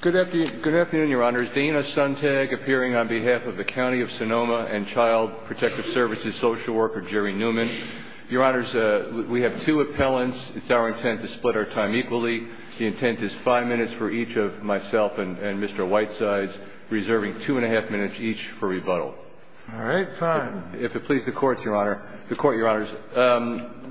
Good afternoon, Your Honors. Dana Sontag, appearing on behalf of the County of Sonoma and Child Protective Services Social Worker, Jerry Newman. Your Honors, we have two appellants. It's our intent to split our time equally. The intent is five minutes for each of myself and Mr. Whitesides, reserving two and a half minutes each for rebuttal. All right, fine. If it please the courts, Your Honor. The court, Your Honors,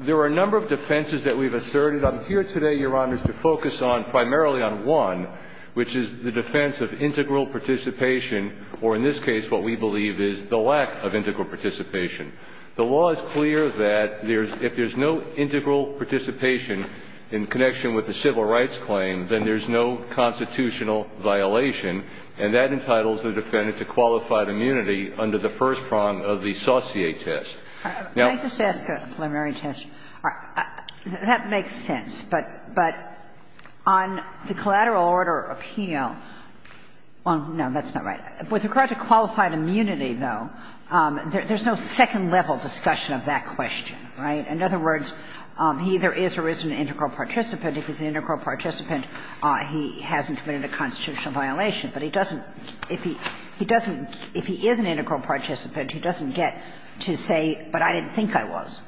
there are a number of defenses that we've asserted. What I'm here today, Your Honors, to focus on, primarily on one, which is the defense of integral participation, or in this case, what we believe is the lack of integral participation. The law is clear that if there's no integral participation in connection with a civil rights claim, then there's no constitutional violation, and that entitles the defendant to qualified immunity under the first prong of the Saussure test. Now — Kagan. I'm not sure if that makes sense, but on the collateral order appeal, well, no, that's not right. With regard to qualified immunity, though, there's no second-level discussion of that question, right? In other words, he either is or isn't an integral participant. If he's an integral participant, he hasn't committed a constitutional violation. But he doesn't — if he doesn't — if he is an integral participant, he doesn't get to say, but I didn't think I was.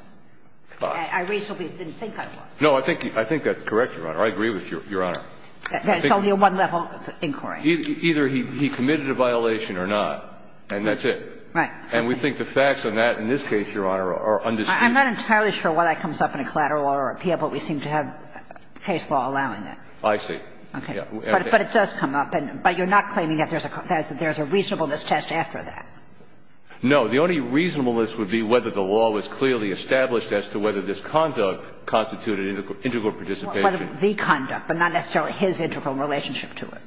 I reasonably didn't think I was. No, I think that's correct, Your Honor. I agree with Your Honor. It's only a one-level inquiry. Either he committed a violation or not, and that's it. Right. And we think the facts on that in this case, Your Honor, are undisputed. I'm not entirely sure why that comes up in a collateral order appeal, but we seem to have case law allowing that. I see. Okay. But it does come up. But you're not claiming that there's a reasonableness test after that. No. The only reasonableness would be whether the law was clearly established as to whether this conduct constituted integral participation. The conduct, but not necessarily his integral relationship to it.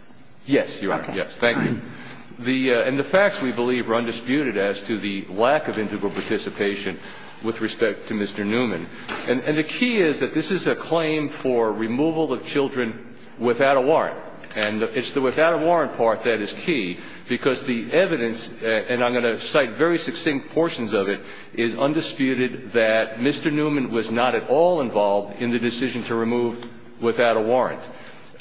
Yes, Your Honor. Yes. Thank you. The — and the facts, we believe, are undisputed as to the lack of integral participation with respect to Mr. Newman. And the key is that this is a claim for removal of children without a warrant. And it's the without a warrant part that is key, because the evidence and evidence that I'm going to cite, very succinct portions of it, is undisputed that Mr. Newman was not at all involved in the decision to remove without a warrant.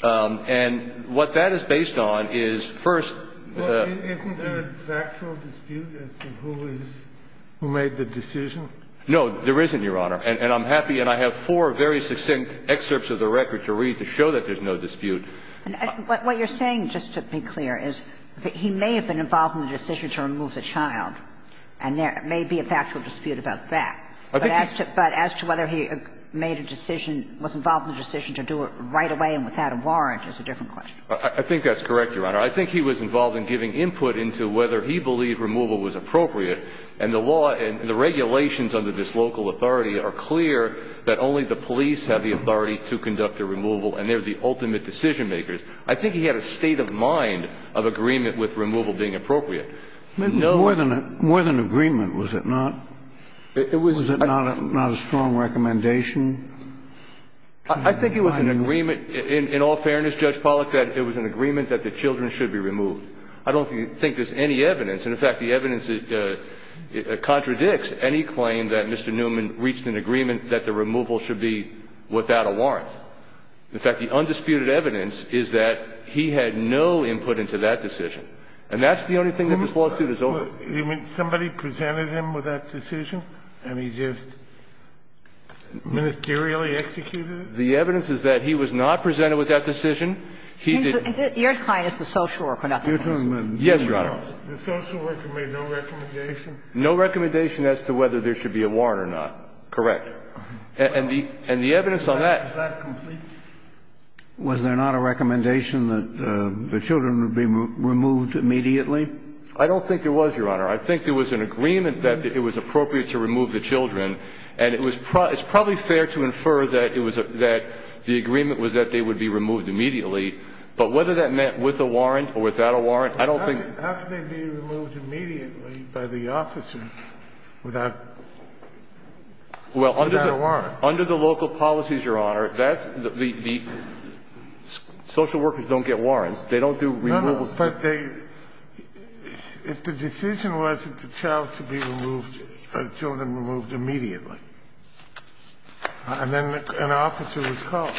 And what that is based on is, first — Well, isn't there a factual dispute as to who is — who made the decision? No, there isn't, Your Honor. And I'm happy — and I have four very succinct excerpts of the record to read to show that there's no dispute. What you're saying, just to be clear, is that he may have been involved in the decision to remove the child, and there may be a factual dispute about that. But as to whether he made a decision — was involved in the decision to do it right away and without a warrant is a different question. I think that's correct, Your Honor. I think he was involved in giving input into whether he believed removal was appropriate. And the law and the regulations under this local authority are clear that only the police have the authority to conduct the removal, and they're the ultimate decision makers. I think he had a state of mind of agreement with removal being appropriate. More than — more than agreement, was it not? Was it not a strong recommendation? I think it was an agreement — in all fairness, Judge Pollack, that it was an agreement that the children should be removed. I don't think there's any evidence — and, in fact, the evidence contradicts any claim that Mr. Newman reached an agreement that the removal should be without a warrant. In fact, the undisputed evidence is that he had no input into that decision. And that's the only thing that this lawsuit is over. Somebody presented him with that decision, and he just ministerially executed it? The evidence is that he was not presented with that decision. He did — And you're saying it's the social work — You're talking about — Yes, Your Honor. The social work made no recommendation? No recommendation as to whether there should be a warrant or not. Correct. And the evidence on that — Was there not a recommendation that the children would be removed immediately? I don't think there was, Your Honor. I think there was an agreement that it was appropriate to remove the children. And it was — it's probably fair to infer that it was a — that the agreement was that they would be removed immediately. But whether that meant with a warrant or without a warrant, I don't think — How could they be removed immediately by the officers without — without a warrant? Under the local policies, Your Honor, that's — the social workers don't get warrants. They don't do removals. No, no. But they — if the decision was that the child should be removed — the children removed immediately, and then an officer was called,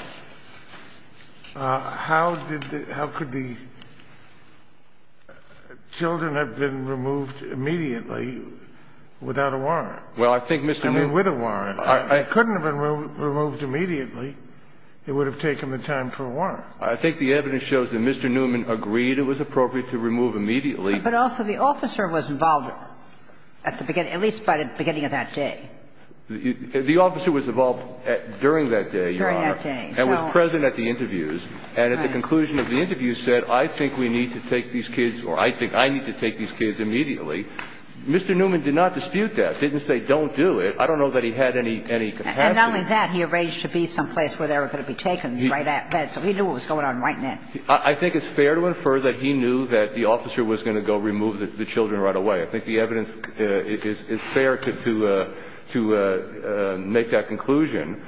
how did the — how could the children have been removed immediately without a warrant? Well, I think, Mr. Newman — I mean, with a warrant. It couldn't have been removed immediately. It would have taken the time for a warrant. I think the evidence shows that Mr. Newman agreed it was appropriate to remove immediately. But also, the officer was involved at the beginning — at least by the beginning of that day. The officer was involved during that day, Your Honor, and was present at the interviews. And at the conclusion of the interviews said, I think we need to take these kids or I think I need to take these kids immediately. Mr. Newman did not dispute that, didn't say don't do it. I don't know that he had any capacity. And not only that, he arranged to be someplace where they were going to be taken right at that — so he knew what was going on right then. I think it's fair to infer that he knew that the officer was going to go remove the children right away. I think the evidence is fair to make that conclusion.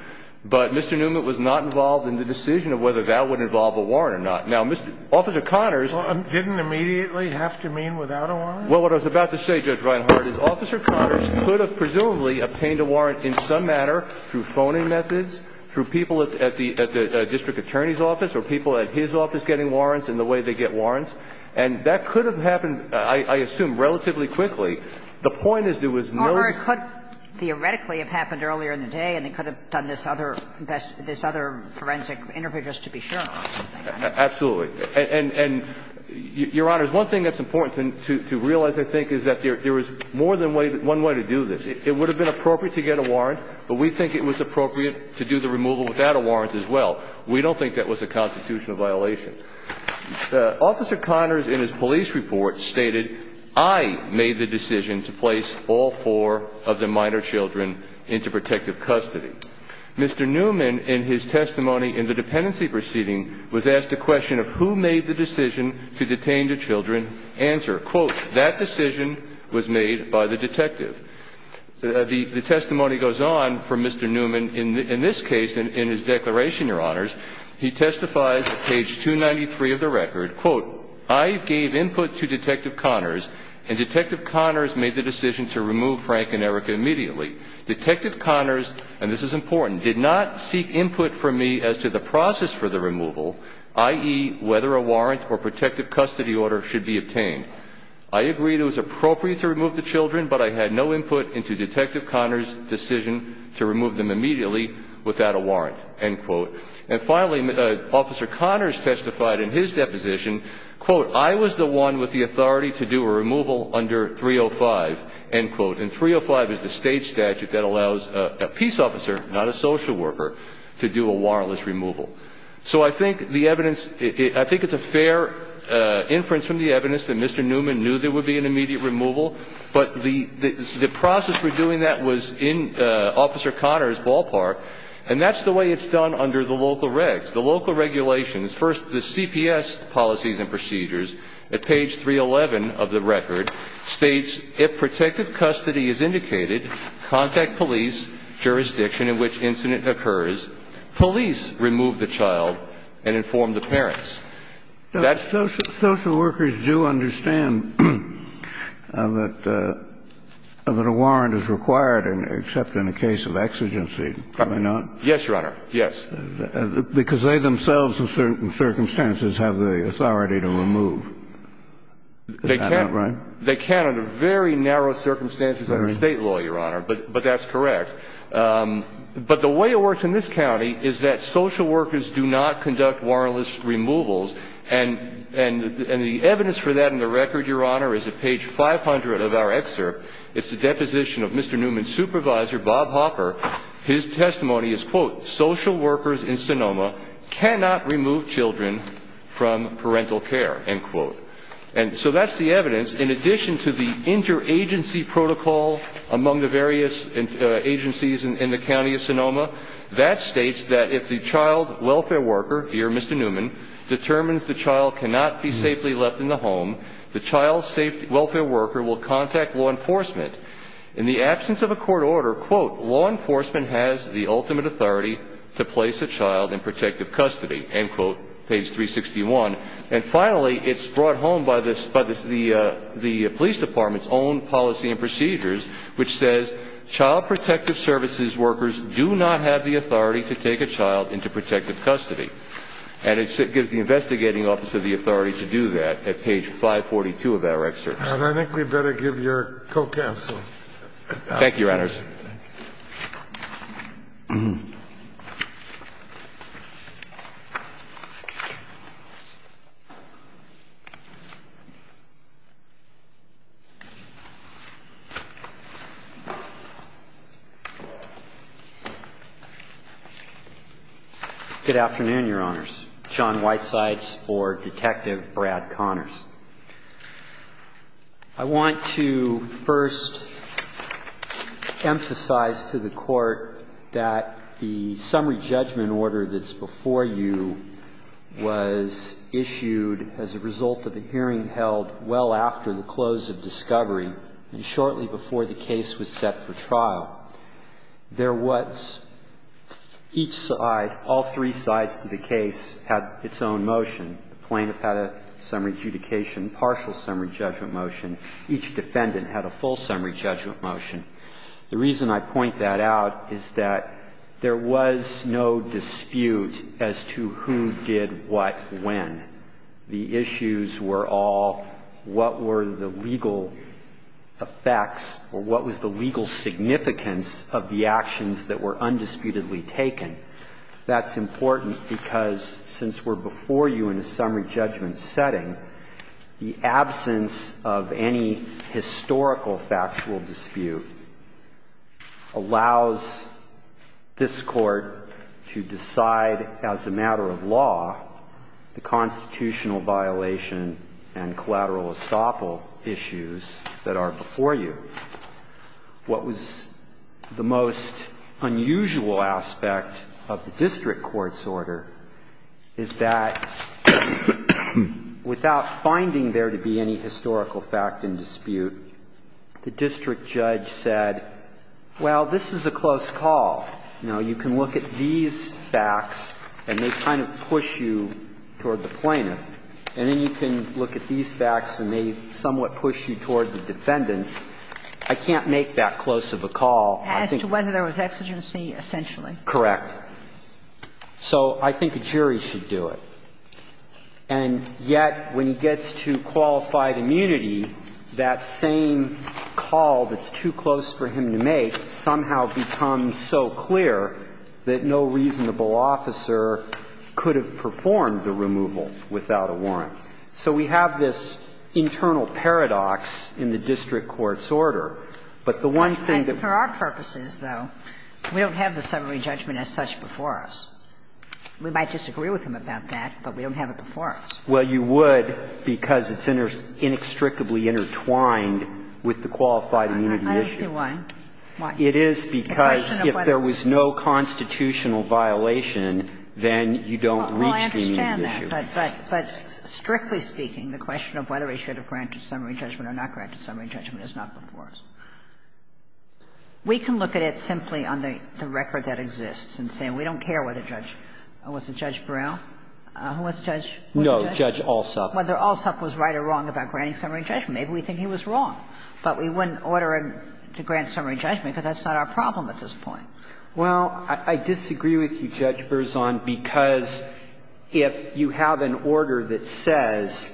But Mr. Newman was not involved in the decision of whether that would involve a warrant or not. Now, Mr. — Officer Connors — Well, didn't immediately have to mean without a warrant? Well, what I was about to say, Judge Reinhart, is Officer Connors could have presumably obtained a warrant in some manner through phoning methods, through people at the district attorney's office or people at his office getting warrants in the way they get warrants. And that could have happened, I assume, relatively quickly. The point is there was no — Or it could theoretically have happened earlier in the day, and it could have done this other — this other forensic interview just to be sure. Absolutely. And, Your Honor, one thing that's important to realize, I think, is that there was more than one way to do this. It would have been appropriate to get a warrant, but we think it was appropriate to do the removal without a warrant as well. We don't think that was a constitutional violation. Officer Connors, in his police report, stated, I made the decision to place all four of the minor children into protective custody. Mr. Newman, in his testimony in the dependency proceeding, was asked the question of who made the decision to detain the children. Answer, quote, that decision was made by the detective. The testimony goes on for Mr. Newman. In this case, in his declaration, Your Honors, he testifies at page 293 of the record, quote, I gave input to Detective Connors, and Detective Connors made the decision to remove Frank and Erica immediately. Detective Connors, and this is important, did not seek input from me as to the process for the removal, i.e., whether a warrant or protective custody order should be obtained. I agreed it was appropriate to remove the children, but I had no input into Detective Connors' decision to remove them immediately without a warrant, end quote. And finally, Officer Connors testified in his deposition, quote, I was the one with the authority to do a removal under 305, end quote, and 305 is the state statute that allows a peace officer, not a social worker, to do a warrantless removal. So I think the evidence, I think it's a fair inference from the evidence that Mr. Newman knew there would be an immediate removal, but the process for doing that was in Officer Connors' ballpark, and that's the way it's done under the local regs, the local regulations. First, the CPS policies and procedures at page 311 of the record states, if protective custody is indicated, contact police, jurisdiction in which incident occurs, police remove the child and inform the parents. That's social workers do understand that a warrant is required, except in the case of exigency, do they not? Yes, Your Honor. Yes. Because they themselves, in certain circumstances, have the authority to remove, is that not right? They can under very narrow circumstances under state law, Your Honor, but that's correct. But the way it works in this county is that social workers do not conduct warrantless removals, and the evidence for that in the record, Your Honor, is at page 500 of our excerpt. It's a deposition of Mr. Newman's supervisor, Bob Hopper. His testimony is, quote, social workers in Sonoma cannot remove children from parental care, end quote. And so that's the evidence, in addition to the interagency protocol among the various agencies in the county of Sonoma. That states that if the child welfare worker, here Mr. Newman, determines the child cannot be safely left in the home, the child welfare worker will contact law enforcement. In the absence of a court order, quote, law enforcement has the ultimate authority to place a child in protective custody, end quote, page 361. And finally, it's brought home by the police department's own policy and practice that says child protective services workers do not have the authority to take a child into protective custody. And it gives the investigating officer the authority to do that at page 542 of our excerpt. And I think we'd better give your co-counsel. Thank you, Your Honors. Good afternoon, Your Honors. John Whitesides for Detective Brad Connors. I want to first emphasize to the Court that the summary judgment order that's before you was issued as a result of a hearing held well after the close of discovery and shortly before the case was set for trial. There was each side, all three sides to the case had its own motion. The plaintiff had a summary adjudication, partial summary judgment motion. Each defendant had a full summary judgment motion. The reason I point that out is that there was no dispute as to who did what when. The issues were all what were the legal effects or what was the legal significance of the actions that were undisputedly taken. That's important because since we're before you in a summary judgment setting, the absence of any historical factual dispute allows this Court to decide as a matter of law the constitutional violation and collateral estoppel issues that are before you. What was the most unusual aspect of the district court's order is that without finding there to be any historical fact in dispute, the district judge said, well, this is a close call. Now, you can look at these facts and they kind of push you toward the plaintiff, and then you can look at these facts and they somewhat push you toward the defendants. I can't make that close of a call. I think the jury should do it. And yet, when he gets to qualified immunity, that same call that's too close for him to make somehow becomes so clear that no reasonable officer could have performed the removal without a warrant. So we have this internal paradox in the district court's order. But the one thing that we have to say is that we don't have the summary judgment as such before us. We might disagree with him about that, but we don't have it before us. Well, you would because it's inextricably intertwined with the qualified immunity issue. I don't see why. Why? It is because if there was no constitutional violation, then you don't reach the issue. Well, I understand that, but strictly speaking, the question of whether he should have granted summary judgment or not granted summary judgment is not before us. We can look at it simply on the record that exists and say we don't care whether Judge – was it Judge Burrell? Who was Judge – was it Judge? No, Judge Alsop. Whether Alsop was right or wrong about granting summary judgment. Maybe we think he was wrong. But we wouldn't order him to grant summary judgment because that's not our problem at this point. Well, I disagree with you, Judge Berzon, because if you have an order that says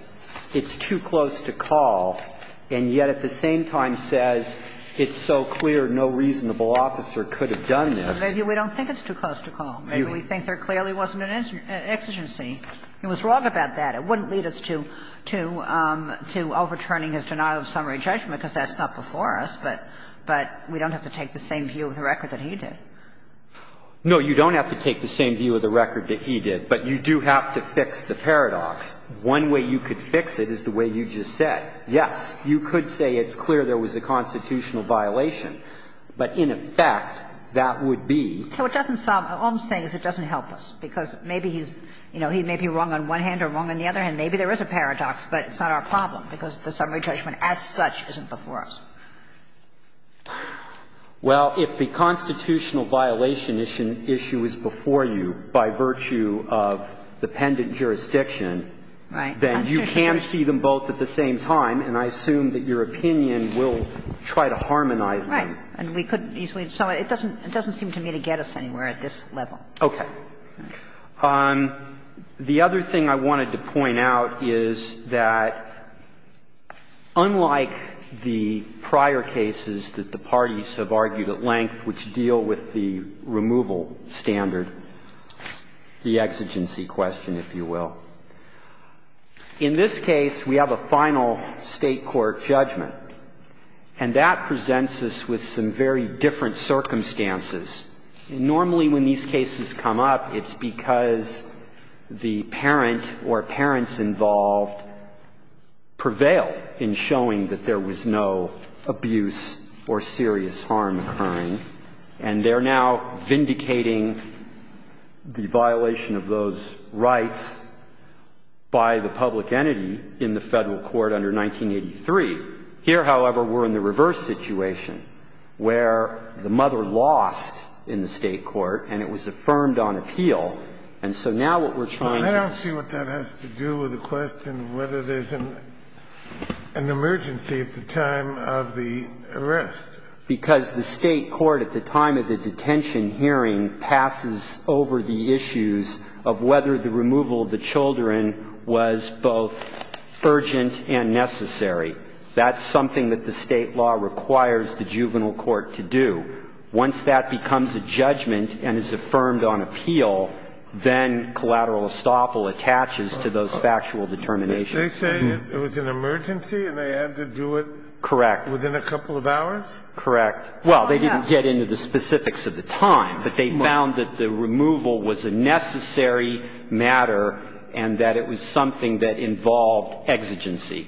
it's too close to call and yet at the same time says it's so clear no reasonable officer could have done this. Maybe we don't think it's too close to call. Maybe we think there clearly wasn't an exigency. He was wrong about that. It wouldn't lead us to overturning his denial of summary judgment, because that's not before us. But we don't have to take the same view of the record that he did. No, you don't have to take the same view of the record that he did, but you do have to fix the paradox. One way you could fix it is the way you just said. Yes, you could say it's clear there was a constitutional violation, but in effect, that would be. So it doesn't solve – all I'm saying is it doesn't help us, because maybe he's – you know, he may be wrong on one hand or wrong on the other hand. Maybe there is a paradox, but it's not our problem, because the summary judgment as such isn't before us. Well, if the constitutional violation issue is before you by virtue of the pendent jurisdiction, then you can see them both at the same time, and I assume that your opinion will try to harmonize them. Right. And we couldn't easily – so it doesn't seem to me to get us anywhere at this level. Okay. The other thing I wanted to point out is that, unlike the prior cases that the parties have argued at length which deal with the removal standard, the exigency question, if you will, in this case, we have a final State court judgment, and that presents us with some very different circumstances. Normally, when these cases come up, it's because the parent or parents involved prevail in showing that there was no abuse or serious harm occurring, and they're now vindicating the violation of those rights by the public entity in the Federal Court under 1983. Here, however, we're in the reverse situation, where the mother lost in the State court, and it was affirmed on appeal, and so now what we're trying to do is to – I don't see what that has to do with the question of whether there's an emergency at the time of the arrest. Because the State court, at the time of the detention hearing, passes over the issues of whether the removal of the children was both urgent and necessary. That's something that the State law requires the juvenile court to do. Once that becomes a judgment and is affirmed on appeal, then collateral estoppel attaches to those factual determinations. Kennedy. They say it was an emergency and they had to do it within a couple of hours? Correct. Well, they didn't get into the specifics of the time, but they found that the removal was a necessary matter and that it was something that involved exigency.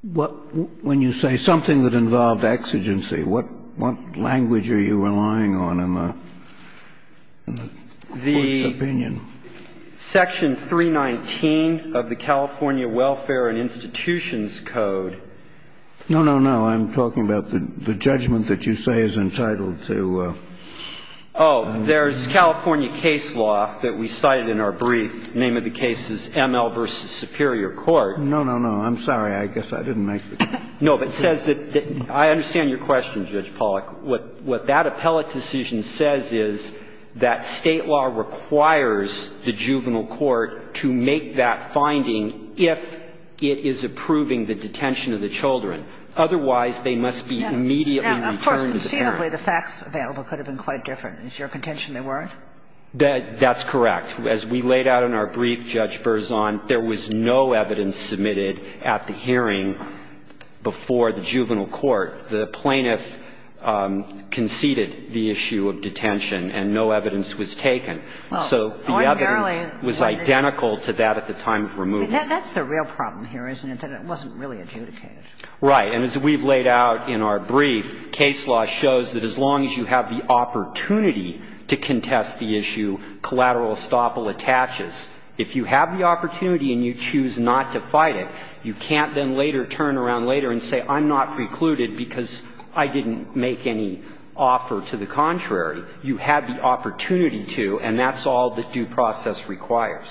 What – when you say something that involved exigency, what language are you relying on in the court's opinion? The section 319 of the California Welfare and Institutions Code. No, no, no. I'm talking about the judgment that you say is entitled to. Oh, there's California case law that we cited in our brief. The name of the case is M.L. v. Superior Court. No, no, no. I'm sorry. I guess I didn't make the case. No, but it says that – I understand your question, Judge Pollack. What that appellate decision says is that State law requires the juvenile court to make that finding if it is approving the detention of the children. Otherwise, they must be immediately returned to the parent. Now, of course, conceivably, the facts available could have been quite different. Is your contention they weren't? That's correct. As we laid out in our brief, Judge Berzon, there was no evidence submitted at the hearing before the juvenile court. The plaintiff conceded the issue of detention, and no evidence was taken. So the evidence was identical to that at the time of removal. That's the real problem here, isn't it, that it wasn't really adjudicated? Right. And as we've laid out in our brief, case law shows that as long as you have the opportunity to contest the issue collateral estoppel attaches, if you have the opportunity and you choose not to fight it, you can't then later turn around later and say, I'm not precluded because I didn't make any offer to the contrary. You had the opportunity to, and that's all that due process requires,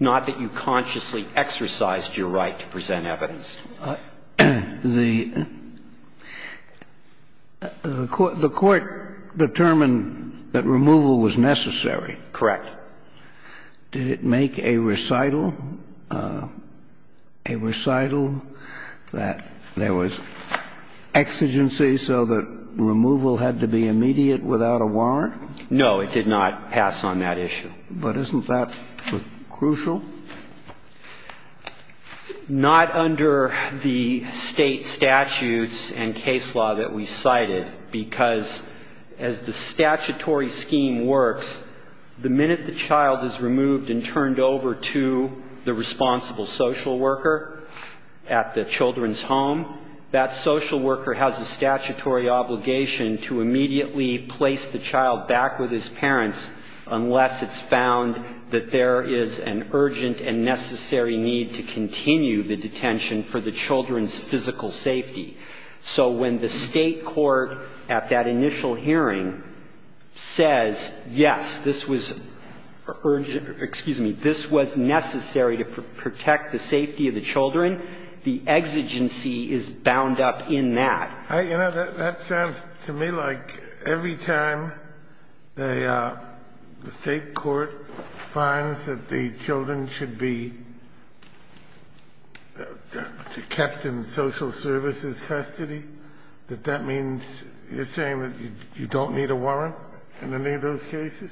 not that you consciously exercised your right to present evidence. The court determined that removal was necessary. Correct. Did it make a recital, a recital that there was exigency so that removal had to be immediate without a warrant? No, it did not pass on that issue. But isn't that crucial? Not under the state statutes and case law that we cited, because as the statutory scheme works, the minute the child is removed and turned over to the responsible social worker at the children's home, that social worker has a statutory obligation to immediately place the child back with his parents unless it's found that there is an urgent and necessary need to continue the detention for the children's physical safety. So when the State court at that initial hearing says, yes, this was urgent or, excuse me, this was necessary to protect the safety of the children, the exigency is bound up in that. You know, that sounds to me like every time the State court finds that the children should be kept in social services custody, that that means you're saying that you don't need a warrant in any of those cases?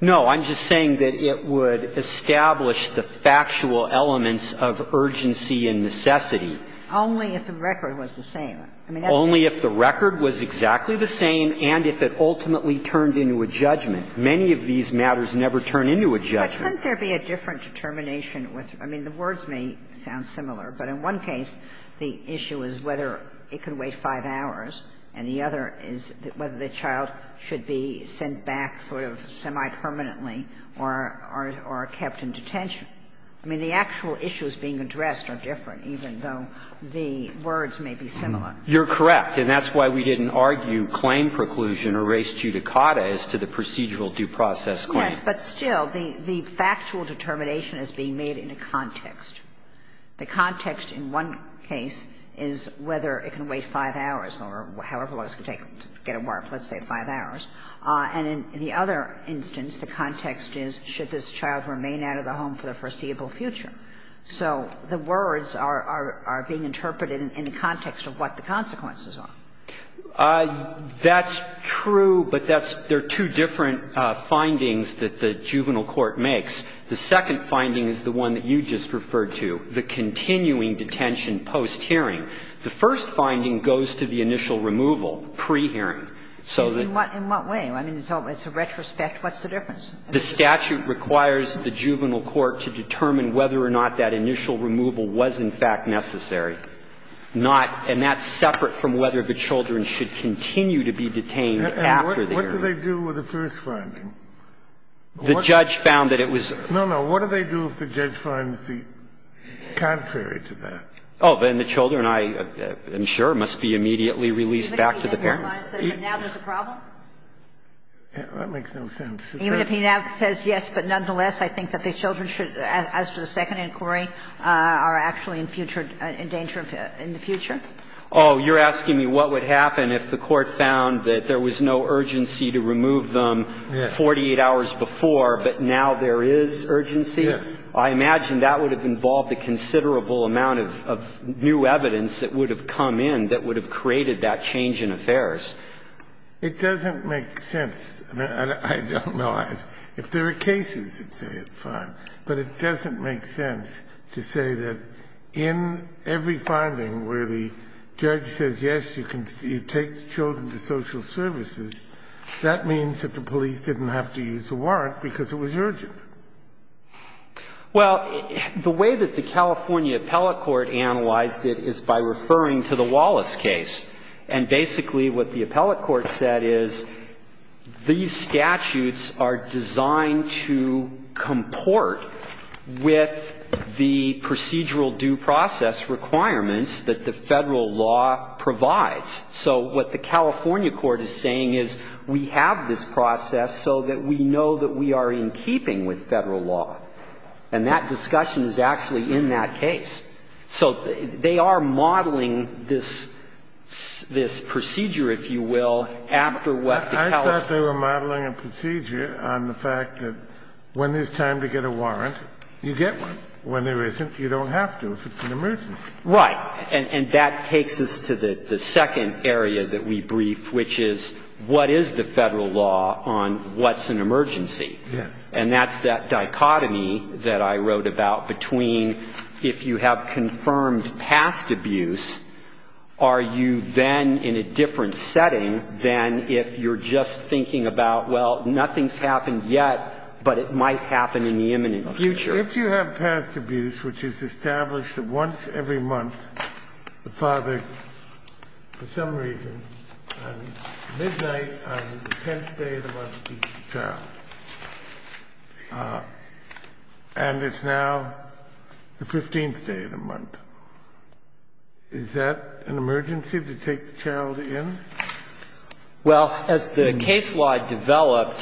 No. I'm just saying that it would establish the factual elements of urgency and necessity. Only if the record was the same. Only if the record was exactly the same and if it ultimately turned into a judgment. Many of these matters never turn into a judgment. But couldn't there be a different determination with the words may sound similar. But in one case, the issue is whether it could wait 5 hours, and the other is whether the child should be sent back sort of semi-permanently or kept in detention. I mean, the actual issues being addressed are different, even though the words may be similar. You're correct, and that's why we didn't argue claim preclusion or res judicata as to the procedural due process claim. Yes, but still, the factual determination is being made in a context. The context in one case is whether it can wait 5 hours or however long it's going to take to get a warrant, let's say 5 hours. And in the other instance, the context is should this child remain out of the home for the foreseeable future. So the words are being interpreted in the context of what the consequences are. That's true, but that's the two different findings that the juvenile court makes. The second finding is the one that you just referred to, the continuing detention post-hearing. The first finding goes to the initial removal, pre-hearing. So the In what way? I mean, it's a retrospect. What's the difference? The statute requires the juvenile court to determine whether or not that initial removal was in fact necessary, not and that's separate from whether the children should continue to be detained after the hearing. And what do they do with the first finding? The judge found that it was. No, no. What do they do if the judge finds the contrary to that? Oh, then the children, I am sure, must be immediately released back to the parent. Now there's a problem? That makes no sense. Even if he now says yes, but nonetheless, I think that the children should, as for the second inquiry, are actually in future endangered in the future? Oh, you're asking me what would happen if the court found that there was no urgency to remove them 48 hours before, but now there is urgency? Yes. I imagine that would have involved a considerable amount of new evidence that would have come in that would have created that change in affairs. It doesn't make sense. I don't know. If there are cases that say it's fine, but it doesn't make sense to say that in every finding where the judge says yes, you can take the children to social services, that means that the police didn't have to use a warrant because it was urgent. Well, the way that the California appellate court analyzed it is by referring to the Wallace case. And basically what the appellate court said is these statutes are designed to comport with the procedural due process requirements that the Federal law provides. So what the California court is saying is we have this process so that we know that we are in keeping with Federal law, and that discussion is actually in that case. So they are modeling this procedure, if you will, after what the appellate court said. I thought they were modeling a procedure on the fact that when there's time to get a warrant, you get one. When there isn't, you don't have to if it's an emergency. Right. And that takes us to the second area that we brief, which is what is the Federal law on what's an emergency? Yes. And that's that dichotomy that I wrote about between if you have confirmed past abuse, are you then in a different setting than if you're just thinking about, well, nothing's happened yet, but it might happen in the imminent future? If you have past abuse, which is established that once every month the father, for some reason, at midnight on the 10th day of the month, beats the child, and it's now the 15th day of the month, is that an emergency to take the child in? Well, as the case law developed,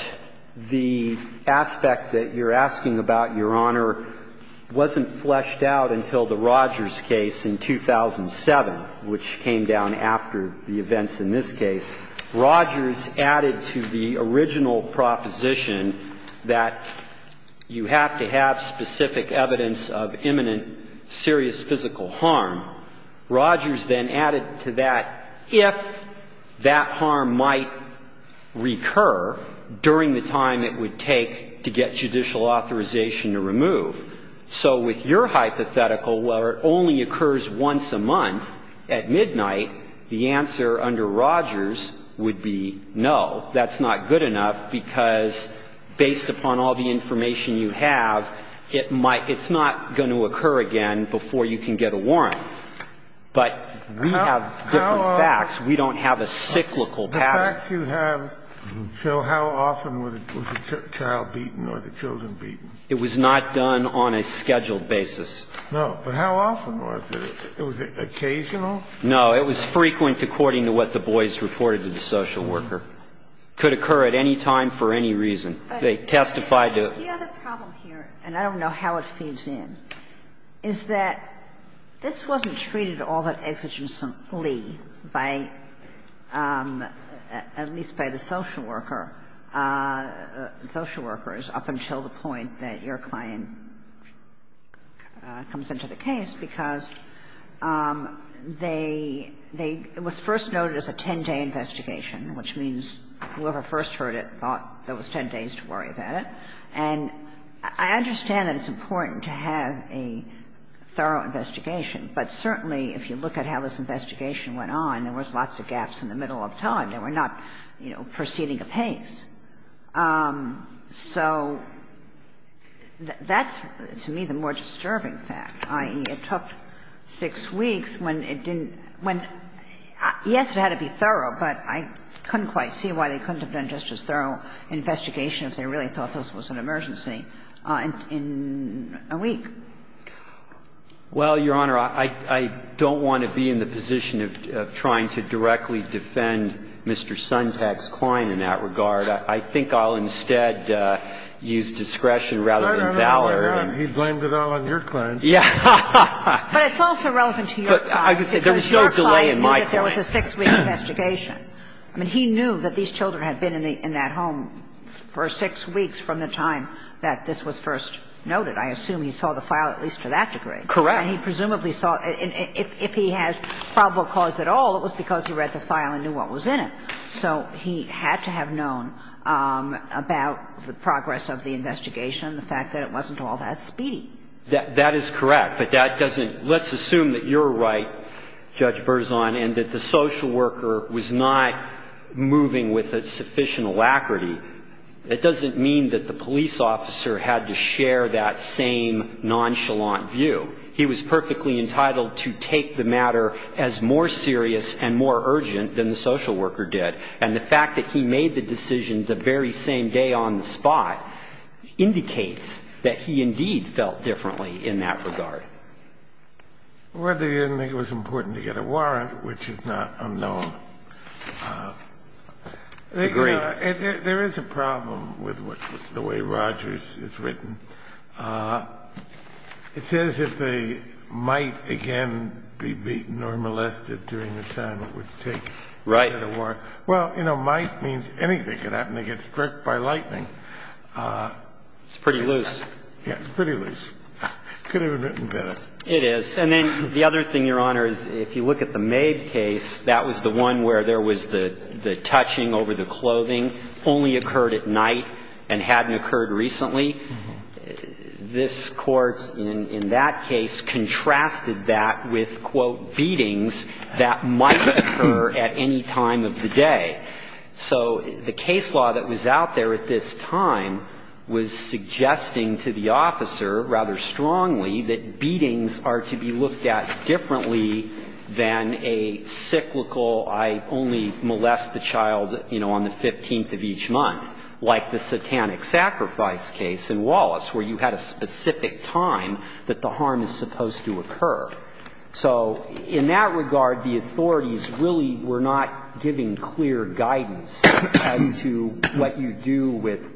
the aspect that you're asking about, Your Honor, wasn't fleshed out until the Rogers case in 2007, which came down after the events in this case. Rogers added to the original proposition that you have to have specific evidence of imminent serious physical harm. Rogers then added to that, if that harm might recur during the time it would take to get judicial authorization to remove. So with your hypothetical, where it only occurs once a month at midnight, the answer under Rogers would be no. That's not good enough, because based upon all the information you have, it might – it's not going to occur again before you can get a warrant. But we have different facts. We don't have a cyclical pattern. The facts you have show how often was the child beaten or the children beaten. It was not done on a scheduled basis. No. But how often was it? Was it occasional? No. It was frequent according to what the boys reported to the social worker. It could occur at any time for any reason. They testified to the other problem here, and I don't know how it feeds in, is that this wasn't treated all that exigently by, at least by the social worker, social workers up until the point that your client comes into the case, because they – it was first noted as a 10-day investigation, which means whoever first heard it thought there was 10 days to worry about it. And I understand that it's important to have a thorough investigation. But certainly, if you look at how this investigation went on, there was lots of gaps in the middle of time. They were not, you know, proceeding apace. So that's, to me, the more disturbing fact, i.e., it took 6 weeks when it didn't – when, yes, it had to be thorough, but I couldn't quite see why they couldn't have done just as thorough an investigation if they really thought this was an emergency in a week. Well, Your Honor, I don't want to be in the position of trying to directly defend Mr. Suntack's client in that regard. I think I'll instead use discretion rather than valor. No, no, no, no, no, no. He blamed it all on your client. Yeah. But it's also relevant to your client. Because your client knew that there was a 6-week investigation. I mean, he knew that these children had been in that home for 6 weeks from the time that this was first noted. I assume he saw the file at least to that degree. Correct. And he presumably saw – if he had probable cause at all, it was because he read the file and knew what was in it. So he had to have known about the progress of the investigation, the fact that it wasn't all that speedy. That is correct. But that doesn't – let's assume that you're right, Judge Berzon, and that the social worker was not moving with a sufficient alacrity, that doesn't mean that the police officer had to share that same nonchalant view. He was perfectly entitled to take the matter as more serious and more urgent than the social worker did. And the fact that he made the decision the very same day on the spot indicates that he indeed felt differently in that regard. Well, they didn't think it was important to get a warrant, which is not unknown. Agreed. There is a problem with the way Rogers is written. It says if they might again be beaten or molested during the time it would take to get a warrant. Right. Well, you know, might means anything. It happened to get struck by lightning. It's pretty loose. Yeah, it's pretty loose. It could have been written better. It is. And then the other thing, Your Honor, is if you look at the Mabe case, that was the one where there was the touching over the clothing, only occurred at night and hadn't occurred recently. This Court in that case contrasted that with, quote, beatings that might occur at any time of the day. So the case law that was out there at this time was suggesting to the officer rather strongly that beatings are to be looked at differently than a cyclical, I only molest the child, you know, on the 15th of each month, like the satanic sacrifice case in Wallace, where you had a specific time that the harm is supposed to occur. So in that regard, the authorities really were not giving clear guidance as to what you do with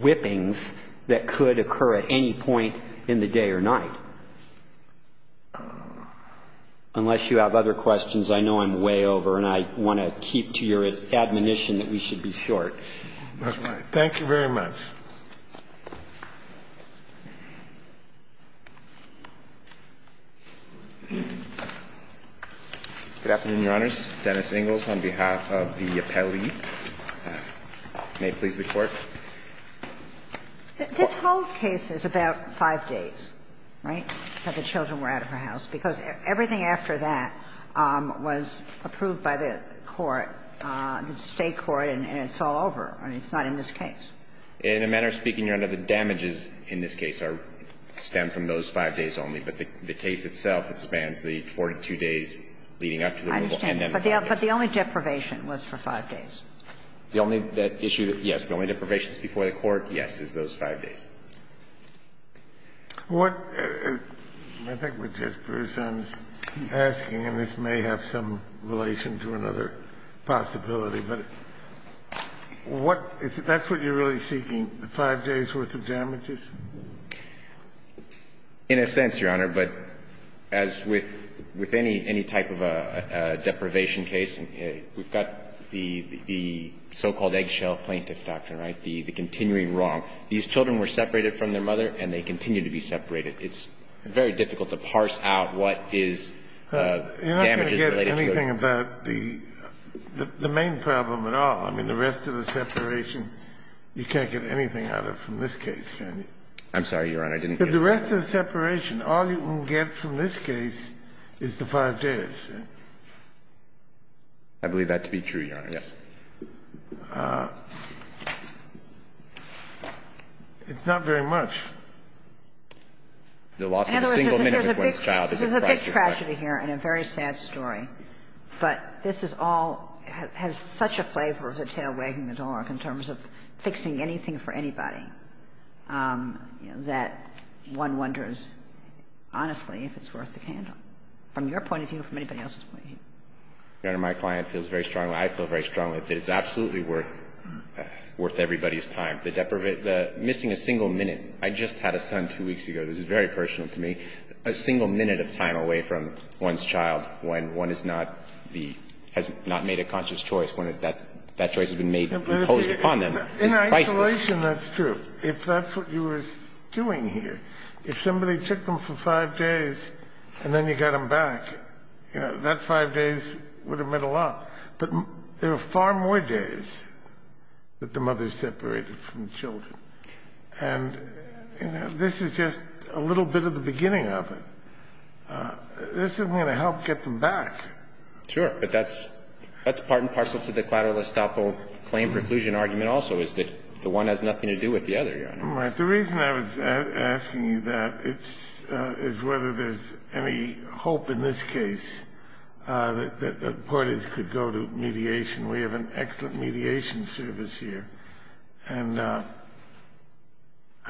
whippings that could occur at any point in the day or night. Unless you have other questions, I know I'm way over, and I want to keep to your admonition that we should be short. Thank you very much. Good afternoon, Your Honors. Dennis Ingalls on behalf of the appellee. May it please the Court. This whole case is about five days, right, that the children were out of the house, because everything after that was approved by the Court, the State court, and it's all over. I mean, it's not in this case. In a manner of speaking, Your Honor, the damages in this case stem from those five days only, but the case itself, it spans the 42 days leading up to the removal and then the five days. I understand, but the only deprivation was for five days. The only issue, yes, the only deprivation before the Court, yes, is those five days. What I think what Judge Gershon is asking, and this may have some relation to another possibility, but what – that's what you're really seeking, the five days' worth of damages? In a sense, Your Honor, but as with any type of a deprivation case, we've got the so-called eggshell plaintiff doctrine, right, the continuing wrong. These children were separated from their mother, and they continue to be separated. It's very difficult to parse out what is damages related to the children. And that's the thing about the – the main problem at all. I mean, the rest of the separation, you can't get anything out of from this case, can you? I'm sorry, Your Honor, I didn't get that. But the rest of the separation, all you can get from this case is the five days. I believe that to be true, Your Honor. Yes. It's not very much. The loss of a single minute with one's child is a crisis, right? It's a tragedy here and a very sad story, but this is all – has such a flavor as a tail wagging the dog in terms of fixing anything for anybody that one wonders, honestly, if it's worth the candle, from your point of view or from anybody else's point of view. Your Honor, my client feels very strongly, I feel very strongly that it's absolutely worth – worth everybody's time. The deprivation – the missing a single minute. I just had a son two weeks ago. This is very personal to me. A single minute of time away from one's child when one is not the – has not made a conscious choice, when that choice has been made and imposed upon them is priceless. In isolation, that's true. If that's what you were doing here, if somebody took them for five days and then you got them back, you know, that five days would have meant a lot. But there are far more days that the mother separated from the children. And, you know, this is just a little bit of the beginning of it. This is going to help get them back. Sure. But that's part and parcel to the clatterless doppel claim preclusion argument also, is that the one has nothing to do with the other, Your Honor. The reason I was asking you that is whether there's any hope in this case that the parties could go to mediation. We have an excellent mediation service here. And I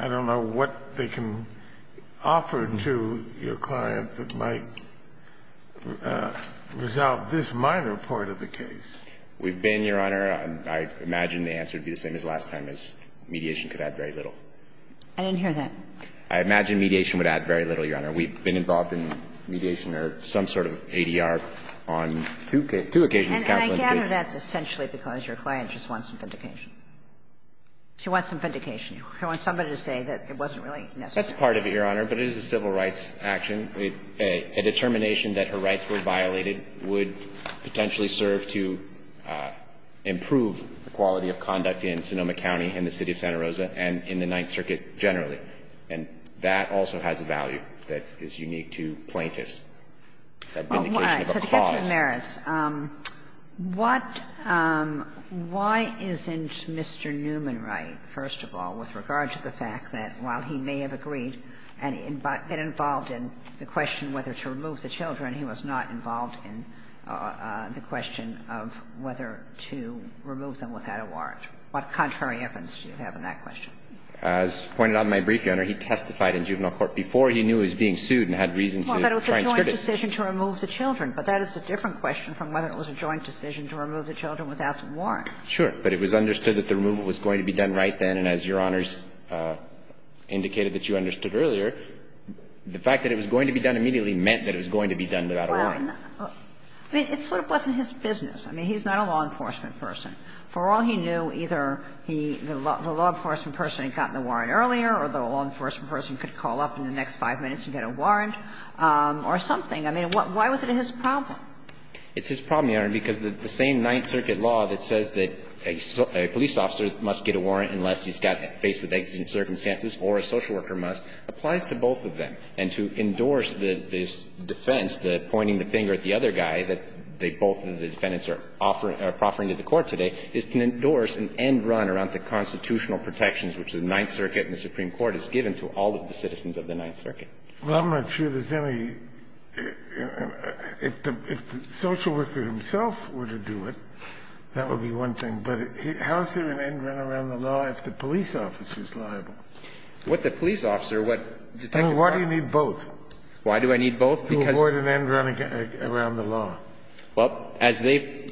don't know what they can offer to your client that might resolve this minor part of the case. We've been, Your Honor, I imagine the answer would be the same as last time, is mediation could add very little. I didn't hear that. I imagine mediation would add very little, Your Honor. We've been involved in mediation or some sort of ADR on two occasions, counsel indication. And that's essentially because your client just wants some vindication. She wants some vindication. She wants somebody to say that it wasn't really necessary. That's part of it, Your Honor, but it is a civil rights action. A determination that her rights were violated would potentially serve to improve the quality of conduct in Sonoma County and the City of Santa Rosa and in the Ninth Circuit generally. And that also has a value that is unique to plaintiffs, that vindication of a clause. Kagan. So to get to the merits, what – why isn't Mr. Newman right, first of all, with regard to the fact that while he may have agreed and got involved in the question whether to remove the children, he was not involved in the question of whether to remove them without a warrant? What contrary evidence do you have in that question? As pointed out in my brief, Your Honor, he testified in juvenile court before he knew that he was going to be removed without a warrant. He testified in a joint decision to remove the children, but that is a different question from whether it was a joint decision to remove the children without a warrant. Sure. But it was understood that the removal was going to be done right then, and as Your Honor's indicated that you understood earlier, the fact that it was going to be done immediately meant that it was going to be done without a warrant. Well, I mean, it sort of wasn't his business. I mean, he's not a law enforcement person. For all he knew, either he – the law enforcement person had gotten the warrant earlier, or the law enforcement person could call up in the next 5 minutes and get a warrant or something. I mean, why was it his problem? It's his problem, Your Honor, because the same Ninth Circuit law that says that a police officer must get a warrant unless he's got – faced with exigent circumstances or a social worker must applies to both of them. And to endorse this defense, the pointing the finger at the other guy that they both and the defendants are offering – are proffering to the Court today, is to endorse an end run around the constitutional protections which the Ninth Circuit and the Supreme Court has given to all of the citizens of the Ninth Circuit. Well, I'm not sure there's any – if the social worker himself were to do it, that would be one thing. But how is there an end run around the law if the police officer is liable? What the police officer, what Detective Clark – And why do you need both? Why do I need both? Because – To avoid an end run around the law. Well, as they've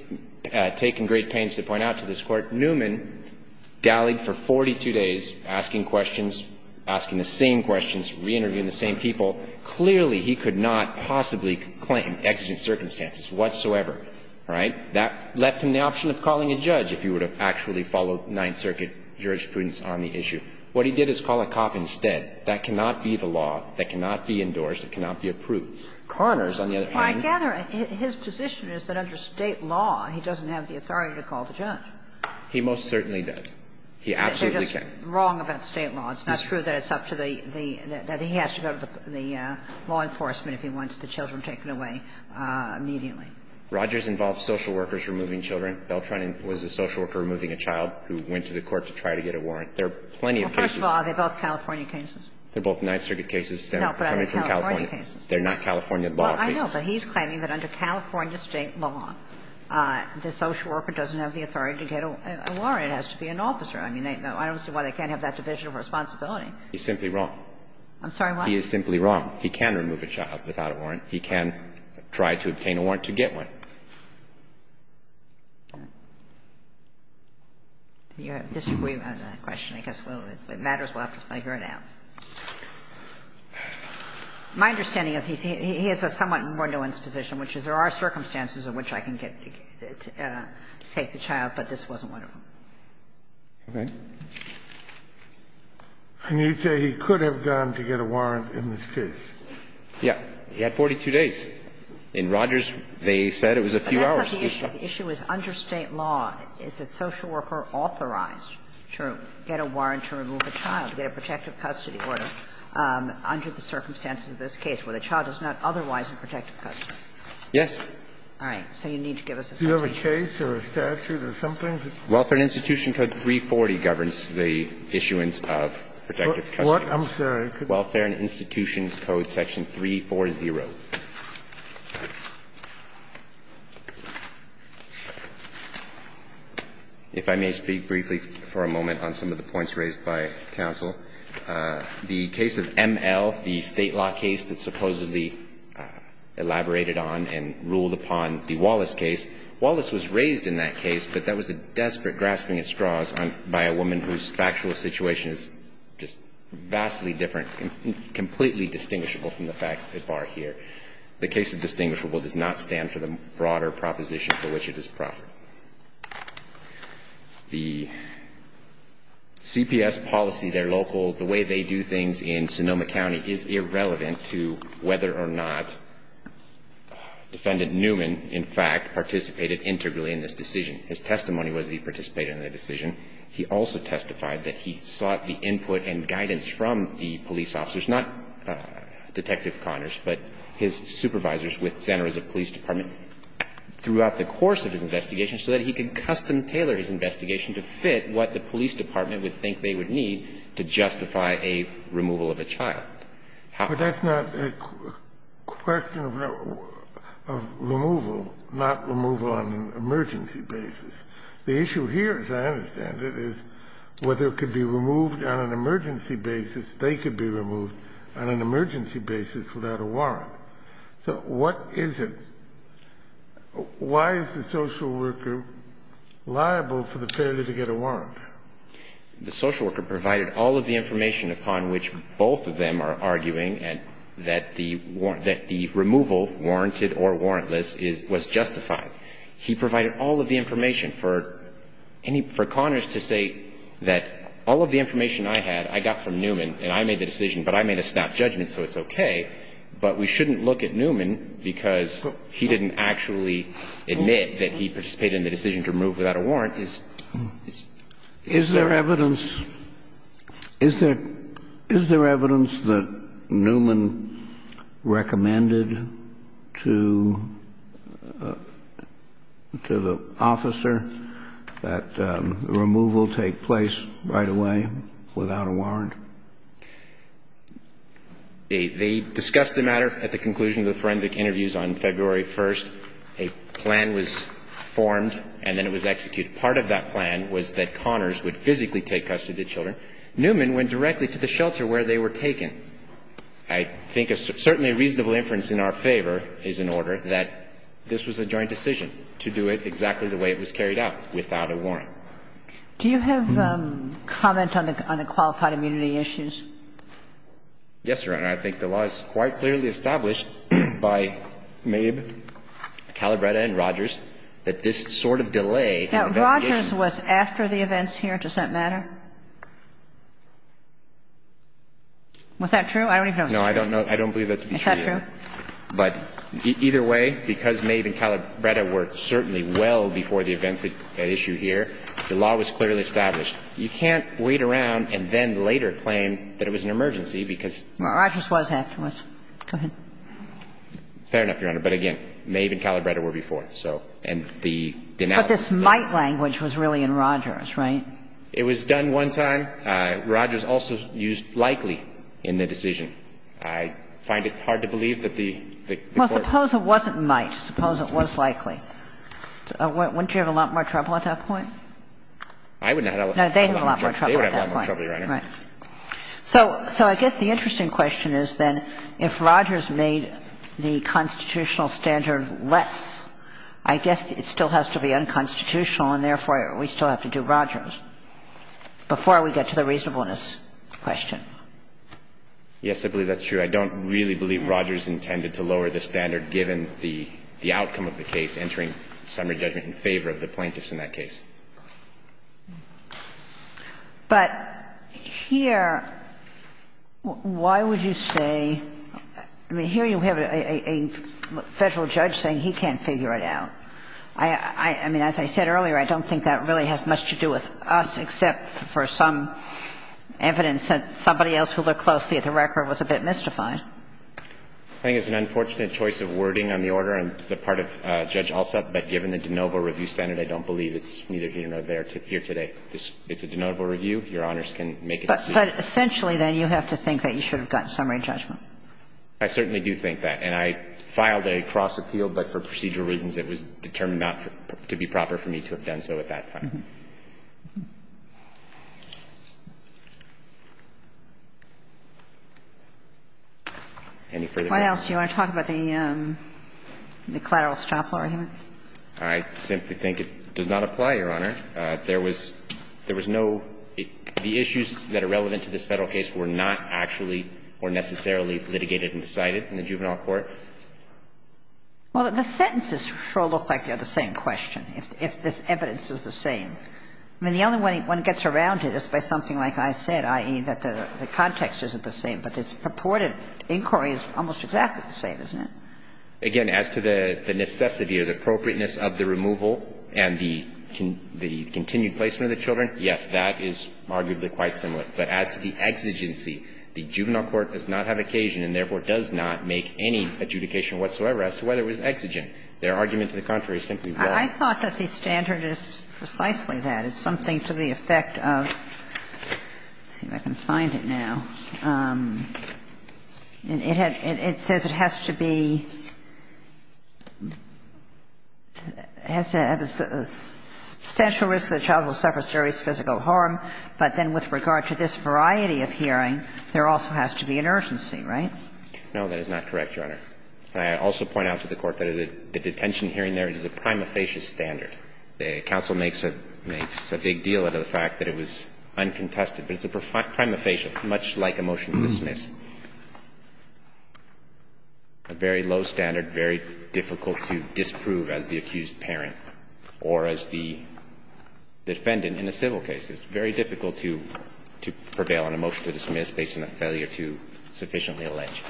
taken great pains to point out to this Court, Newman dallied for 42 days asking questions, asking the same questions, reinterviewing the same people. Clearly, he could not possibly claim exigent circumstances whatsoever. All right? That left him the option of calling a judge if he would have actually followed Ninth Circuit jurisprudence on the issue. What he did is call a cop instead. That cannot be the law. It cannot be approved. Connors, on the other hand – Well, I gather his position is that under State law, he doesn't have the authority to call the judge. He most certainly doesn't. He absolutely can't. They're just wrong about State law. It's not true that it's up to the – that he has to go to the law enforcement if he wants the children taken away immediately. Rogers involved social workers removing children. Beltran was a social worker removing a child who went to the court to try to get a warrant. There are plenty of cases – Well, first of all, are they both California cases? They're both Ninth Circuit cases. No, but are they California cases? They're not California law cases. I know, but he's claiming that under California State law, the social worker doesn't have the authority to get a warrant. It has to be an officer. I mean, I don't see why they can't have that division of responsibility. He's simply wrong. I'm sorry, what? He is simply wrong. He can remove a child without a warrant. He can try to obtain a warrant to get one. I disagree with that question. I guess it matters what I hear now. My understanding is he has a somewhat more nuanced position, which is there are circumstances in which I can get to take the child, but this wasn't one of them. Okay. And you say he could have gone to get a warrant in this case? Yeah. He had 42 days. In Rogers, they said it was a few hours. But that's not the issue. The issue is under State law, is that social worker authorized to get a warrant to remove a child, to get a protective custody order, under the circumstances of this case, where the child is not otherwise in protective custody. Yes. All right. So you need to give us a summary. Do you have a case or a statute or something? Welfare and Institution Code 340 governs the issuance of protective custody. What? I'm sorry. Welfare and Institution Code section 340. If I may speak briefly for a moment on some of the points raised by counsel, the case of M.L., the State law case that supposedly elaborated on and ruled upon the Wallace case, Wallace was raised in that case, but that was a desperate grasping at straws by a woman whose factual situation is just vastly different, completely distinguishable from the facts at bar here. The case is distinguishable, does not stand for the broader proposition for which it is proper. The CPS policy, their local, the way they do things in Sonoma County is irrelevant to whether or not Defendant Newman, in fact, participated integrally in this decision. His testimony was that he participated in the decision. He also testified that he sought the input and guidance from the police officers, not Detective Connors, but his supervisors with Santa Rosa Police Department throughout the course of his investigation so that he could custom tailor his investigation to fit what the police department would think they would need to justify a removal of a child. How could that be? That's not a question of removal, not removal on an emergency basis. The issue here, as I understand it, is whether it could be removed on an emergency basis, they could be removed on an emergency basis without a warrant. So what is it? Why is the social worker liable for the failure to get a warrant? The social worker provided all of the information upon which both of them are arguing and that the removal, warranted or warrantless, was justified. He provided all of the information for any, for Connors to say that all of the information I had, I got from Newman, and I made the decision, but I made a snap judgment, so it's okay, but we shouldn't look at Newman because he didn't actually admit that he participated in the decision to remove without a warrant is, is there? Is there evidence that Newman recommended to, to the officer that removal take place without a warrant? They discussed the matter at the conclusion of the forensic interviews on February 1st. A plan was formed and then it was executed. Part of that plan was that Connors would physically take custody of the children. Newman went directly to the shelter where they were taken. I think a certainly reasonable inference in our favor is in order that this was a joint Do you have a comment on that? Do you have comment on the qualified immunity issues? Yes, Your Honor. I think the law is quite clearly established by Mabe, Calabretta and Rogers that this sort of delay in the investigation was after the events here. The law was clearly established. You can't wait around and then later claim that it was an emergency because Rogers was afterwards. Go ahead. Fair enough, Your Honor, but again, Mabe and Calabretta were before, so, and the denouncement. But this might language was really in Rogers, right? It was done one time. Rogers also used likely in the decision. I find it hard to believe that the Court Well, suppose it wasn't might. Suppose it was likely. Wouldn't you have a lot more trouble at that point? I wouldn't have a lot more trouble at that point. No, they would have a lot more trouble, Your Honor. Right. So I guess the interesting question is then if Rogers made the constitutional standard less, I guess it still has to be unconstitutional, and therefore, we still have to do Rogers before we get to the reasonableness question. Yes, I believe that's true. I don't really believe Rogers intended to lower the standard given the outcome of the case entering summary judgment in favor of the plaintiffs in that case. But here, why would you say – I mean, here you have a Federal judge saying he can't figure it out. I mean, as I said earlier, I don't think that really has much to do with us, except for some evidence that somebody else who looked closely at the record was a bit mystified. I think it's an unfortunate choice of wording on the order on the part of Judge I don't believe it's neither here nor there to appear today. It's a denotable review. Your Honors can make a decision. But essentially, then, you have to think that you should have gotten summary judgment. I certainly do think that. And I filed a cross-appeal, but for procedural reasons, it was determined not to be proper for me to have done so at that time. Any further questions? What else? Do you want to talk about the collateral stop law here? I simply think it does not apply, Your Honor. There was no – the issues that are relevant to this Federal case were not actually or necessarily litigated and decided in the juvenile court. Well, the sentences sure look like they're the same question, if this evidence is the same. I mean, the only way one gets around it is by something like I said, i.e., that the context isn't the same. But this purported inquiry is almost exactly the same, isn't it? Again, as to the necessity or the appropriateness of the removal and the continued placement of the children, yes, that is arguably quite similar. But as to the exigency, the juvenile court does not have occasion and therefore does not make any adjudication whatsoever as to whether it was exigent. Their argument to the contrary is simply that the standard is precisely that. It's something to the effect of – let's see if I can find it now. It says it has to be – it has to have a substantial risk that the child will suffer serious physical harm, but then with regard to this variety of hearing, there also has to be an urgency, right? No, that is not correct, Your Honor. I also point out to the Court that the detention hearing there is a prima facie standard. The counsel makes a big deal out of the fact that it was uncontested. But it's a prima facie, much like a motion to dismiss, a very low standard, very difficult to disprove as the accused parent or as the defendant in a civil case. It's very difficult to prevail on a motion to dismiss based on a failure to sufficiently allege.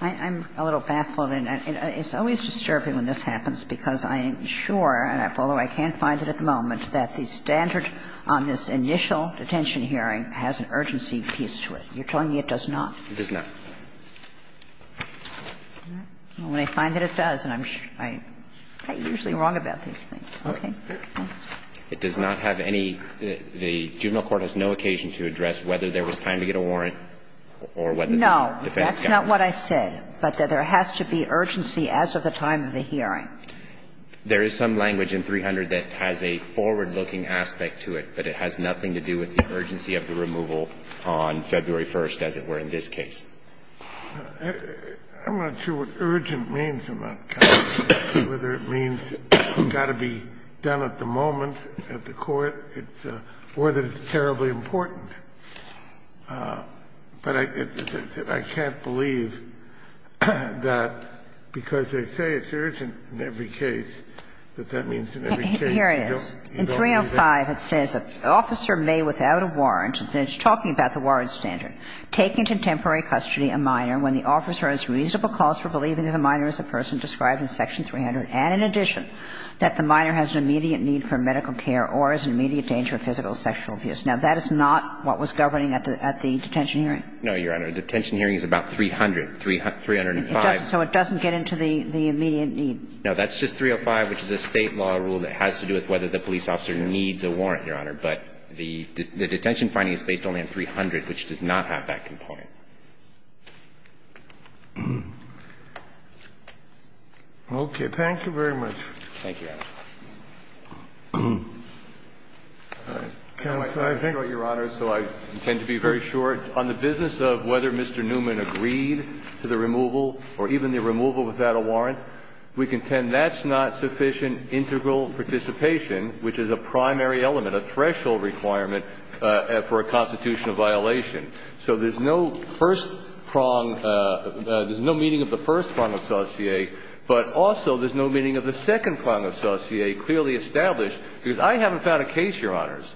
I'm a little baffled. It's always disturbing when this happens because I'm sure, although I can't find it at the moment, that the standard on this initial detention hearing has an urgency piece to it. You're telling me it does not? It does not. Well, when I find that it does, then I'm – I'm usually wrong about these things. Okay. It does not have any – the juvenile court has no occasion to address whether there was time to get a warrant or whether the defense got one. No, that's not what I said, but that there has to be urgency as of the time of the hearing. There is some language in 300 that has a forward-looking aspect to it, but it has nothing to do with the urgency of the removal on February 1st, as it were in this case. I'm not sure what urgent means in that case, whether it means it's got to be done at the moment at the court, it's – or that it's terribly important. But I can't believe that because they say it's urgent in every case, that that means in every case you don't – you don't do that. Here it is. In 305, it says that an officer may, without a warrant, and it's talking about the warrant standard, take into temporary custody a minor when the officer has reasonable cause for believing that the minor is a person described in Section 300 and, in addition, that the minor has an immediate need for medical care or is in immediate danger of physical or sexual abuse. Now, that is not what was governing at the detention hearing. No, Your Honor. A detention hearing is about 300, 305. So it doesn't get into the immediate need. No. That's just 305, which is a State law rule that has to do with whether the police officer needs a warrant, Your Honor. But the detention finding is based only on 300, which does not have that component. Okay. Thank you very much. Thank you, Your Honor. Counsel, I think – I'm going to be short, Your Honor, so I intend to be very short. On the business of whether Mr. Newman agreed to the removal or even the removal without a warrant, we contend that's not sufficient integral participation, which is a primary element, a threshold requirement for a constitutional violation. So there's no first prong – there's no meaning of the first prong of saucier, but also there's no meaning of the second prong of saucier clearly established. Because I haven't found a case, Your Honors,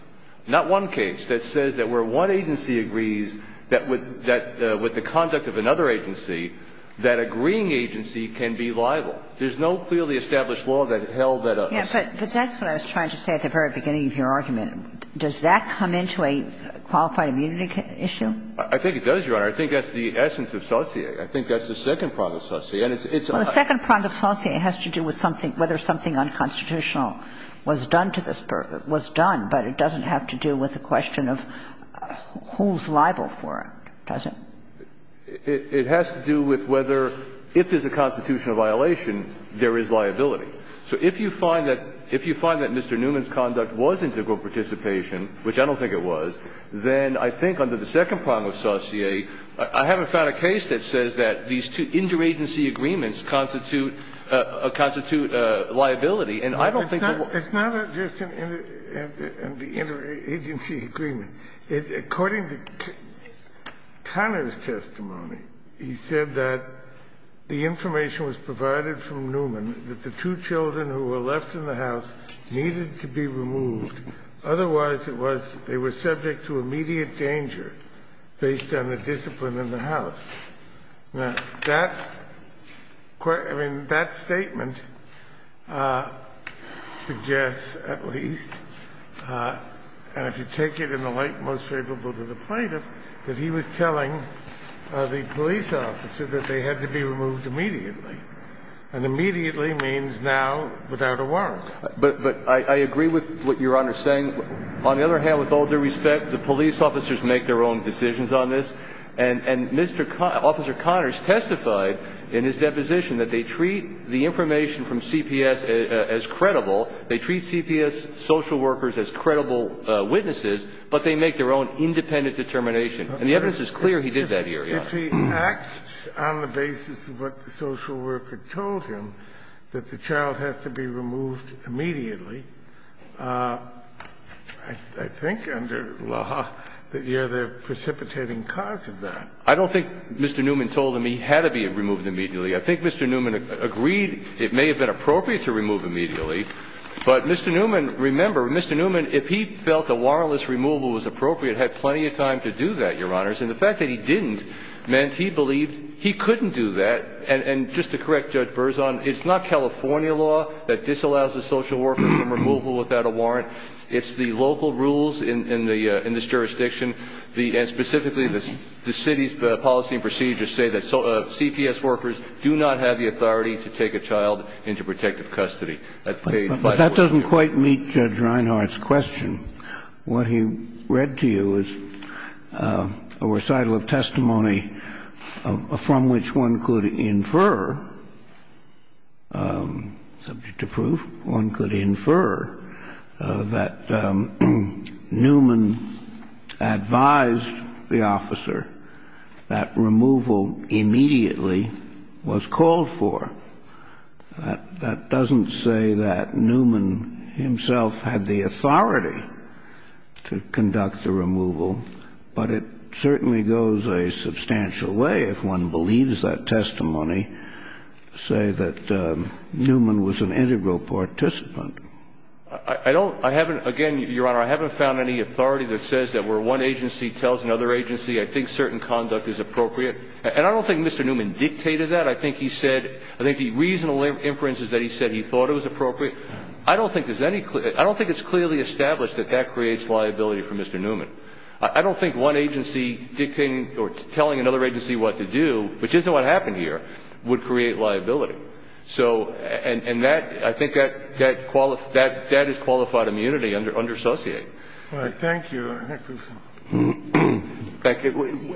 not one case, that says that where one agency agrees that with the conduct of another agency, that agreeing agency can be liable. There's no clearly established law that held that up. Yes, but that's what I was trying to say at the very beginning of your argument. Does that come into a qualified immunity issue? I think it does, Your Honor. I think that's the essence of saucier. I think that's the second prong of saucier. And it's a – Well, the second prong of saucier has to do with something – whether something unconstitutional was done to this – was done, but it doesn't have to do with the question of who's liable for it, does it? It has to do with whether, if there's a constitutional violation, there is liability. So if you find that – if you find that Mr. Newman's conduct was integral participation, which I don't think it was, then I think under the second prong of saucier – I haven't found a case that says that these two interagency agreements constitute liability. And I don't think that – It's not just an interagency agreement. According to Conner's testimony, he said that the information was provided from Newman that the two children who were left in the house needed to be removed. Otherwise, it was – they were subject to immediate danger based on the discipline in the house. Now, that – I mean, that statement suggests at least – and if you take it in the light most favorable to the plaintiff – that he was telling the police officer that they had to be removed immediately. And immediately means now without a warrant. But I agree with what Your Honor is saying. On the other hand, with all due respect, the police officers make their own decisions on this, and Mr. – Officer Conners testified in his deposition that they treat the information from CPS as credible, they treat CPS social workers as credible witnesses, but they make their own independent determination. And the evidence is clear he did that here, Your Honor. If he acts on the basis of what the social worker told him, that the child has to be I don't think Mr. Newman told him he had to be removed immediately. I think Mr. Newman agreed it may have been appropriate to remove immediately. But Mr. Newman – remember, Mr. Newman, if he felt a warrantless removal was appropriate, had plenty of time to do that, Your Honors. And the fact that he didn't meant he believed he couldn't do that. And just to correct Judge Berzon, it's not California law that disallows a social worker from removal without a warrant. It's the local rules in this jurisdiction, and specifically the city's policy and procedures say that CPS workers do not have the authority to take a child into protective custody. That's page 514. But that doesn't quite meet Judge Reinhart's question. What he read to you is a recital of testimony from which one could infer, subject to proof, one could infer that Newman advised the officer that removal immediately was called for. That doesn't say that Newman himself had the authority to conduct the removal. But it certainly goes a substantial way, if one believes that testimony, to say that Newman was an integral participant. I don't – I haven't – again, Your Honor, I haven't found any authority that says that where one agency tells another agency, I think certain conduct is appropriate. And I don't think Mr. Newman dictated that. I think he said – I think the reasonable inference is that he said he thought it was appropriate. I don't think there's any – I don't think it's clearly established that that creates liability for Mr. Newman. I don't think one agency dictating or telling another agency what to do, which isn't what happened here, would create liability. So – and that – I think that – that is qualified immunity under – under associate. Thank you.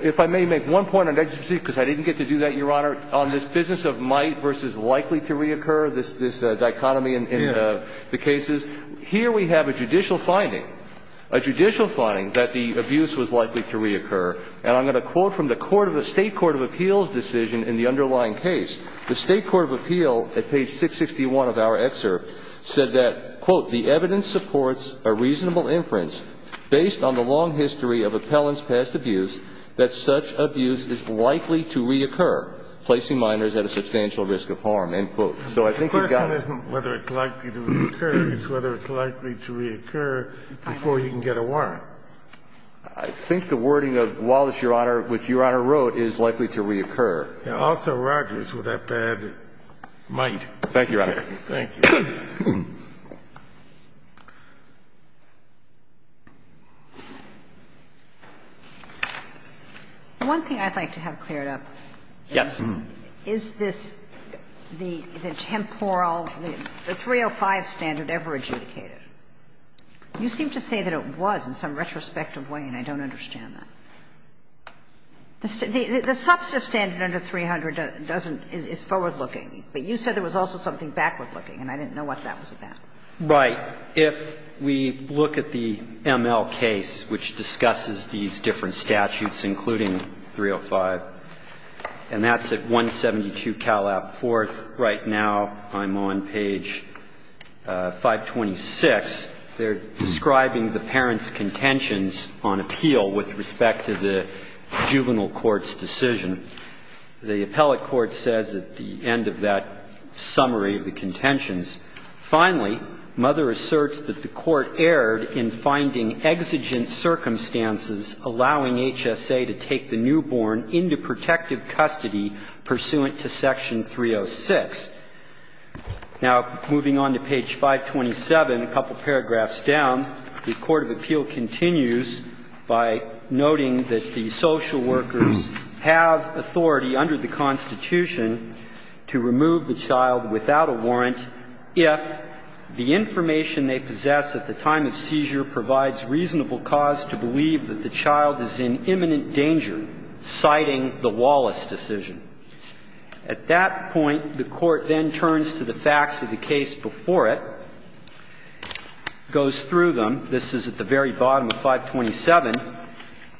If I may make one point, because I didn't get to do that, Your Honor, on this business of might versus likely to reoccur, this dichotomy in the cases. Here we have a judicial finding, a judicial finding, that the abuse was likely to reoccur. And I'm going to quote from the court of – the State court of appeals decision in the underlying case. The State court of appeal, at page 661 of our excerpt, said that, quote, the evidence supports a reasonable inference based on the long history of appellant's past abuse that such abuse is likely to reoccur, placing minors at a substantial risk of harm, end quote. So I think you've got – The question isn't whether it's likely to reoccur. It's whether it's likely to reoccur before you can get a warrant. I think the wording of Wallace, Your Honor, which Your Honor wrote, is likely to reoccur. And also Rogers, with that bad might. Thank you, Your Honor. Thank you. One thing I'd like to have cleared up is, is this the temporal, the 305 standard ever adjudicated? You seem to say that it was in some retrospective way, and I don't understand that. The substantive standard under 300 doesn't – is forward-looking. But you said there was also something backward-looking, and I didn't know what that was about. Right. If we look at the ML case, which discusses these different statutes, including 305, and that's at 172 Calab IV. Right now, I'm on page 526. They're describing the parents' contentions on appeal with respect to the juvenile court's decision. The appellate court says at the end of that summary of the contentions, Finally, mother asserts that the court erred in finding exigent circumstances allowing HSA to take the newborn into protective custody pursuant to section 306. Now, moving on to page 527, a couple paragraphs down, the court of appeal continues by noting that the social workers have authority under the Constitution to remove the child without a warrant if the information they possess at the time of seizure provides reasonable cause to believe that the child is in imminent danger, citing the Wallace decision. At that point, the court then turns to the facts of the case before it, goes through them. This is at the very bottom of 527,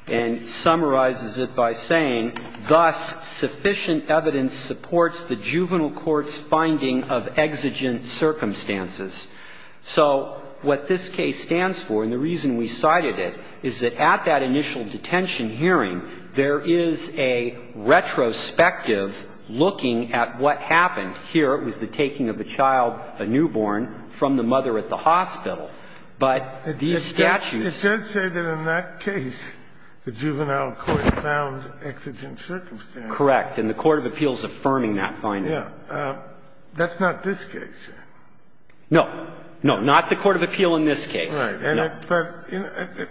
and summarizes it by saying, Thus, sufficient evidence supports the juvenile court's finding of exigent circumstances. So what this case stands for, and the reason we cited it, is that at that initial detention hearing, there is a retrospective looking at what happened. Here, it was the taking of a child, a newborn, from the mother at the hospital. But these statutes ---- Kennedy, it does say that in that case, the juvenile court found exigent circumstances. Correct. And the court of appeal is affirming that finding. Yes. That's not this case. No. No. Not the court of appeal in this case. Right. But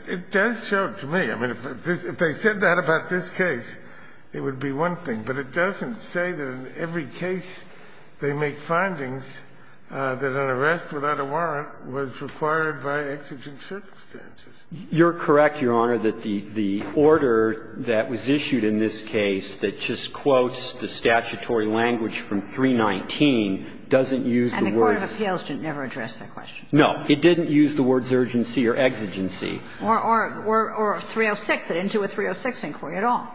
it does show to me. I mean, if they said that about this case, it would be one thing. But it doesn't say that in every case they make findings that an arrest without a warrant was required by exigent circumstances. You're correct, Your Honor, that the order that was issued in this case that just quotes the statutory language from 319 doesn't use the words ---- And the court of appeals didn't ever address that question. No. It didn't use the words urgency or exigency. Or 306, it didn't do a 306 inquiry at all.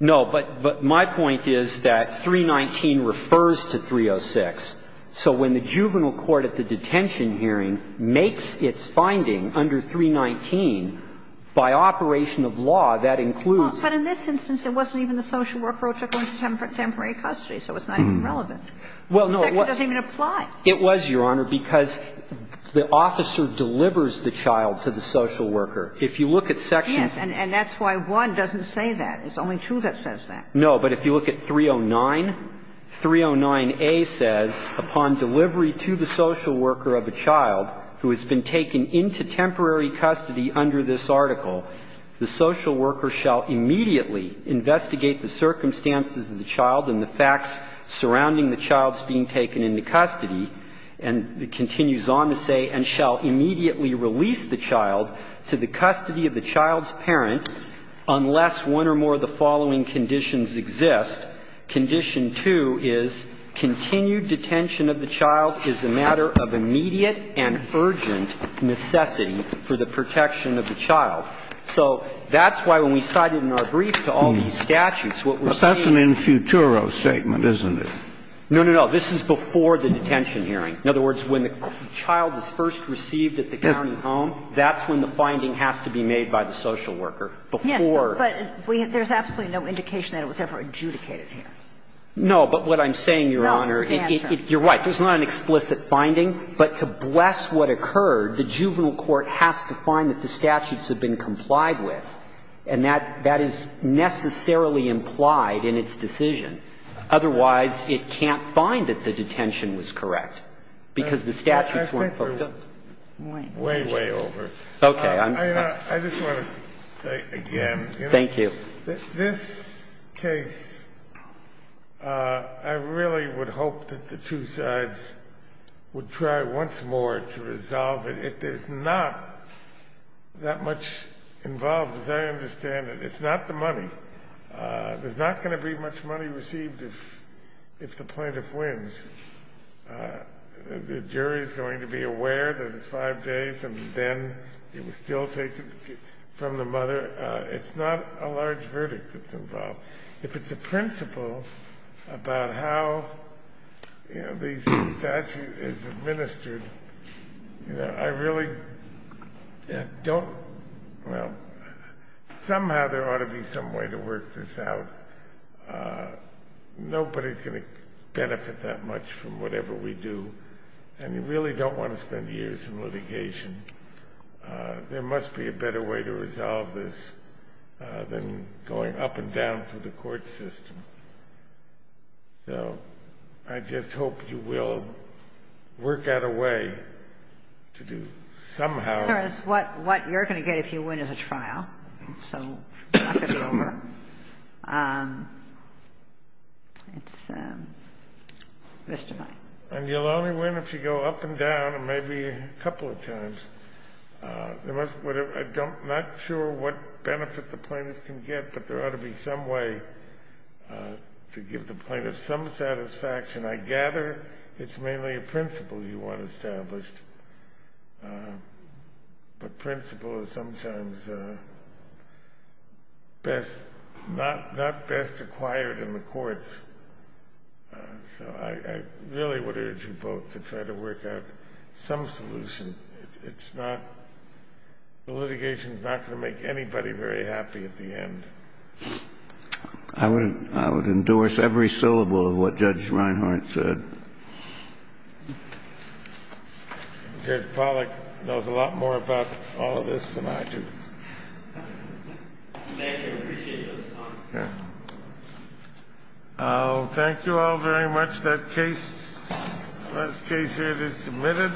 No. But my point is that 319 refers to 306. So when the juvenile court at the detention hearing makes its finding under 319, by operation of law, that includes ---- But in this instance, it wasn't even the social worker or temporary custody. So it's not even relevant. Well, no. It doesn't even apply. It was, Your Honor, because the officer delivers the child to the social worker. If you look at section ---- Yes. And that's why 1 doesn't say that. It's only 2 that says that. No. But if you look at 309, 309a says, Upon delivery to the social worker of a child who has been taken into temporary custody under this article, the social worker shall immediately investigate the circumstances of the child and the facts surrounding the child's being taken into custody, and continues on to say, and shall immediately release the child to the custody of the child's parent unless one or more of the following conditions exist. Condition 2 is continued detention of the child is a matter of immediate and urgent necessity for the protection of the child. So that's why when we cite it in our brief to all these statutes, what we're saying is ---- But that's an infuturo statement, isn't it? No, no, no. This is before the detention hearing. In other words, when the child is first received at the county home, that's when the finding has to be made by the social worker before ---- Yes. But there's absolutely no indication that it was ever adjudicated here. No. But what I'm saying, Your Honor, it ---- No. It's the answer. You're right. There's not an explicit finding. But to bless what occurred, the juvenile court has to find that the statutes have been complied with. And that is necessarily implied in its decision. Otherwise, it can't find that the detention was correct because the statutes weren't fulfilled. I think we're way, way over. Okay. I just want to say again. Thank you. This case, I really would hope that the two sides would try once more to resolve it. It is not that much involved, as I understand it. It's not the money. There's not going to be much money received if the plaintiff wins. The jury's going to be aware that it's five days and then it was still taken from the mother. It's not a large verdict that's involved. If it's a principle about how, you know, the statute is administered, you know, I really don't, well, somehow there ought to be some way to work this out. Nobody's going to benefit that much from whatever we do. And you really don't want to spend years in litigation. There must be a better way to resolve this than going up and down through the court system. So, I just hope you will work out a way to do somehow. What you're going to get if you win is a trial. So, it's not going to be over. It's mystifying. And you'll only win if you go up and down, and maybe a couple of times. I'm not sure what benefit the plaintiff can get, but there ought to be some way to give the plaintiff some satisfaction. I gather it's mainly a principle you want established. But principle is sometimes not best acquired in the courts. So, I really would urge you both to try to work out some solution. It's not, the litigation's not going to make anybody very happy at the end. I would endorse every syllable of what Judge Reinhart said. Judge Pollack knows a lot more about all of this than I do. Thank you. I appreciate those comments. Okay. Thank you all very much. That case, last case here is submitted.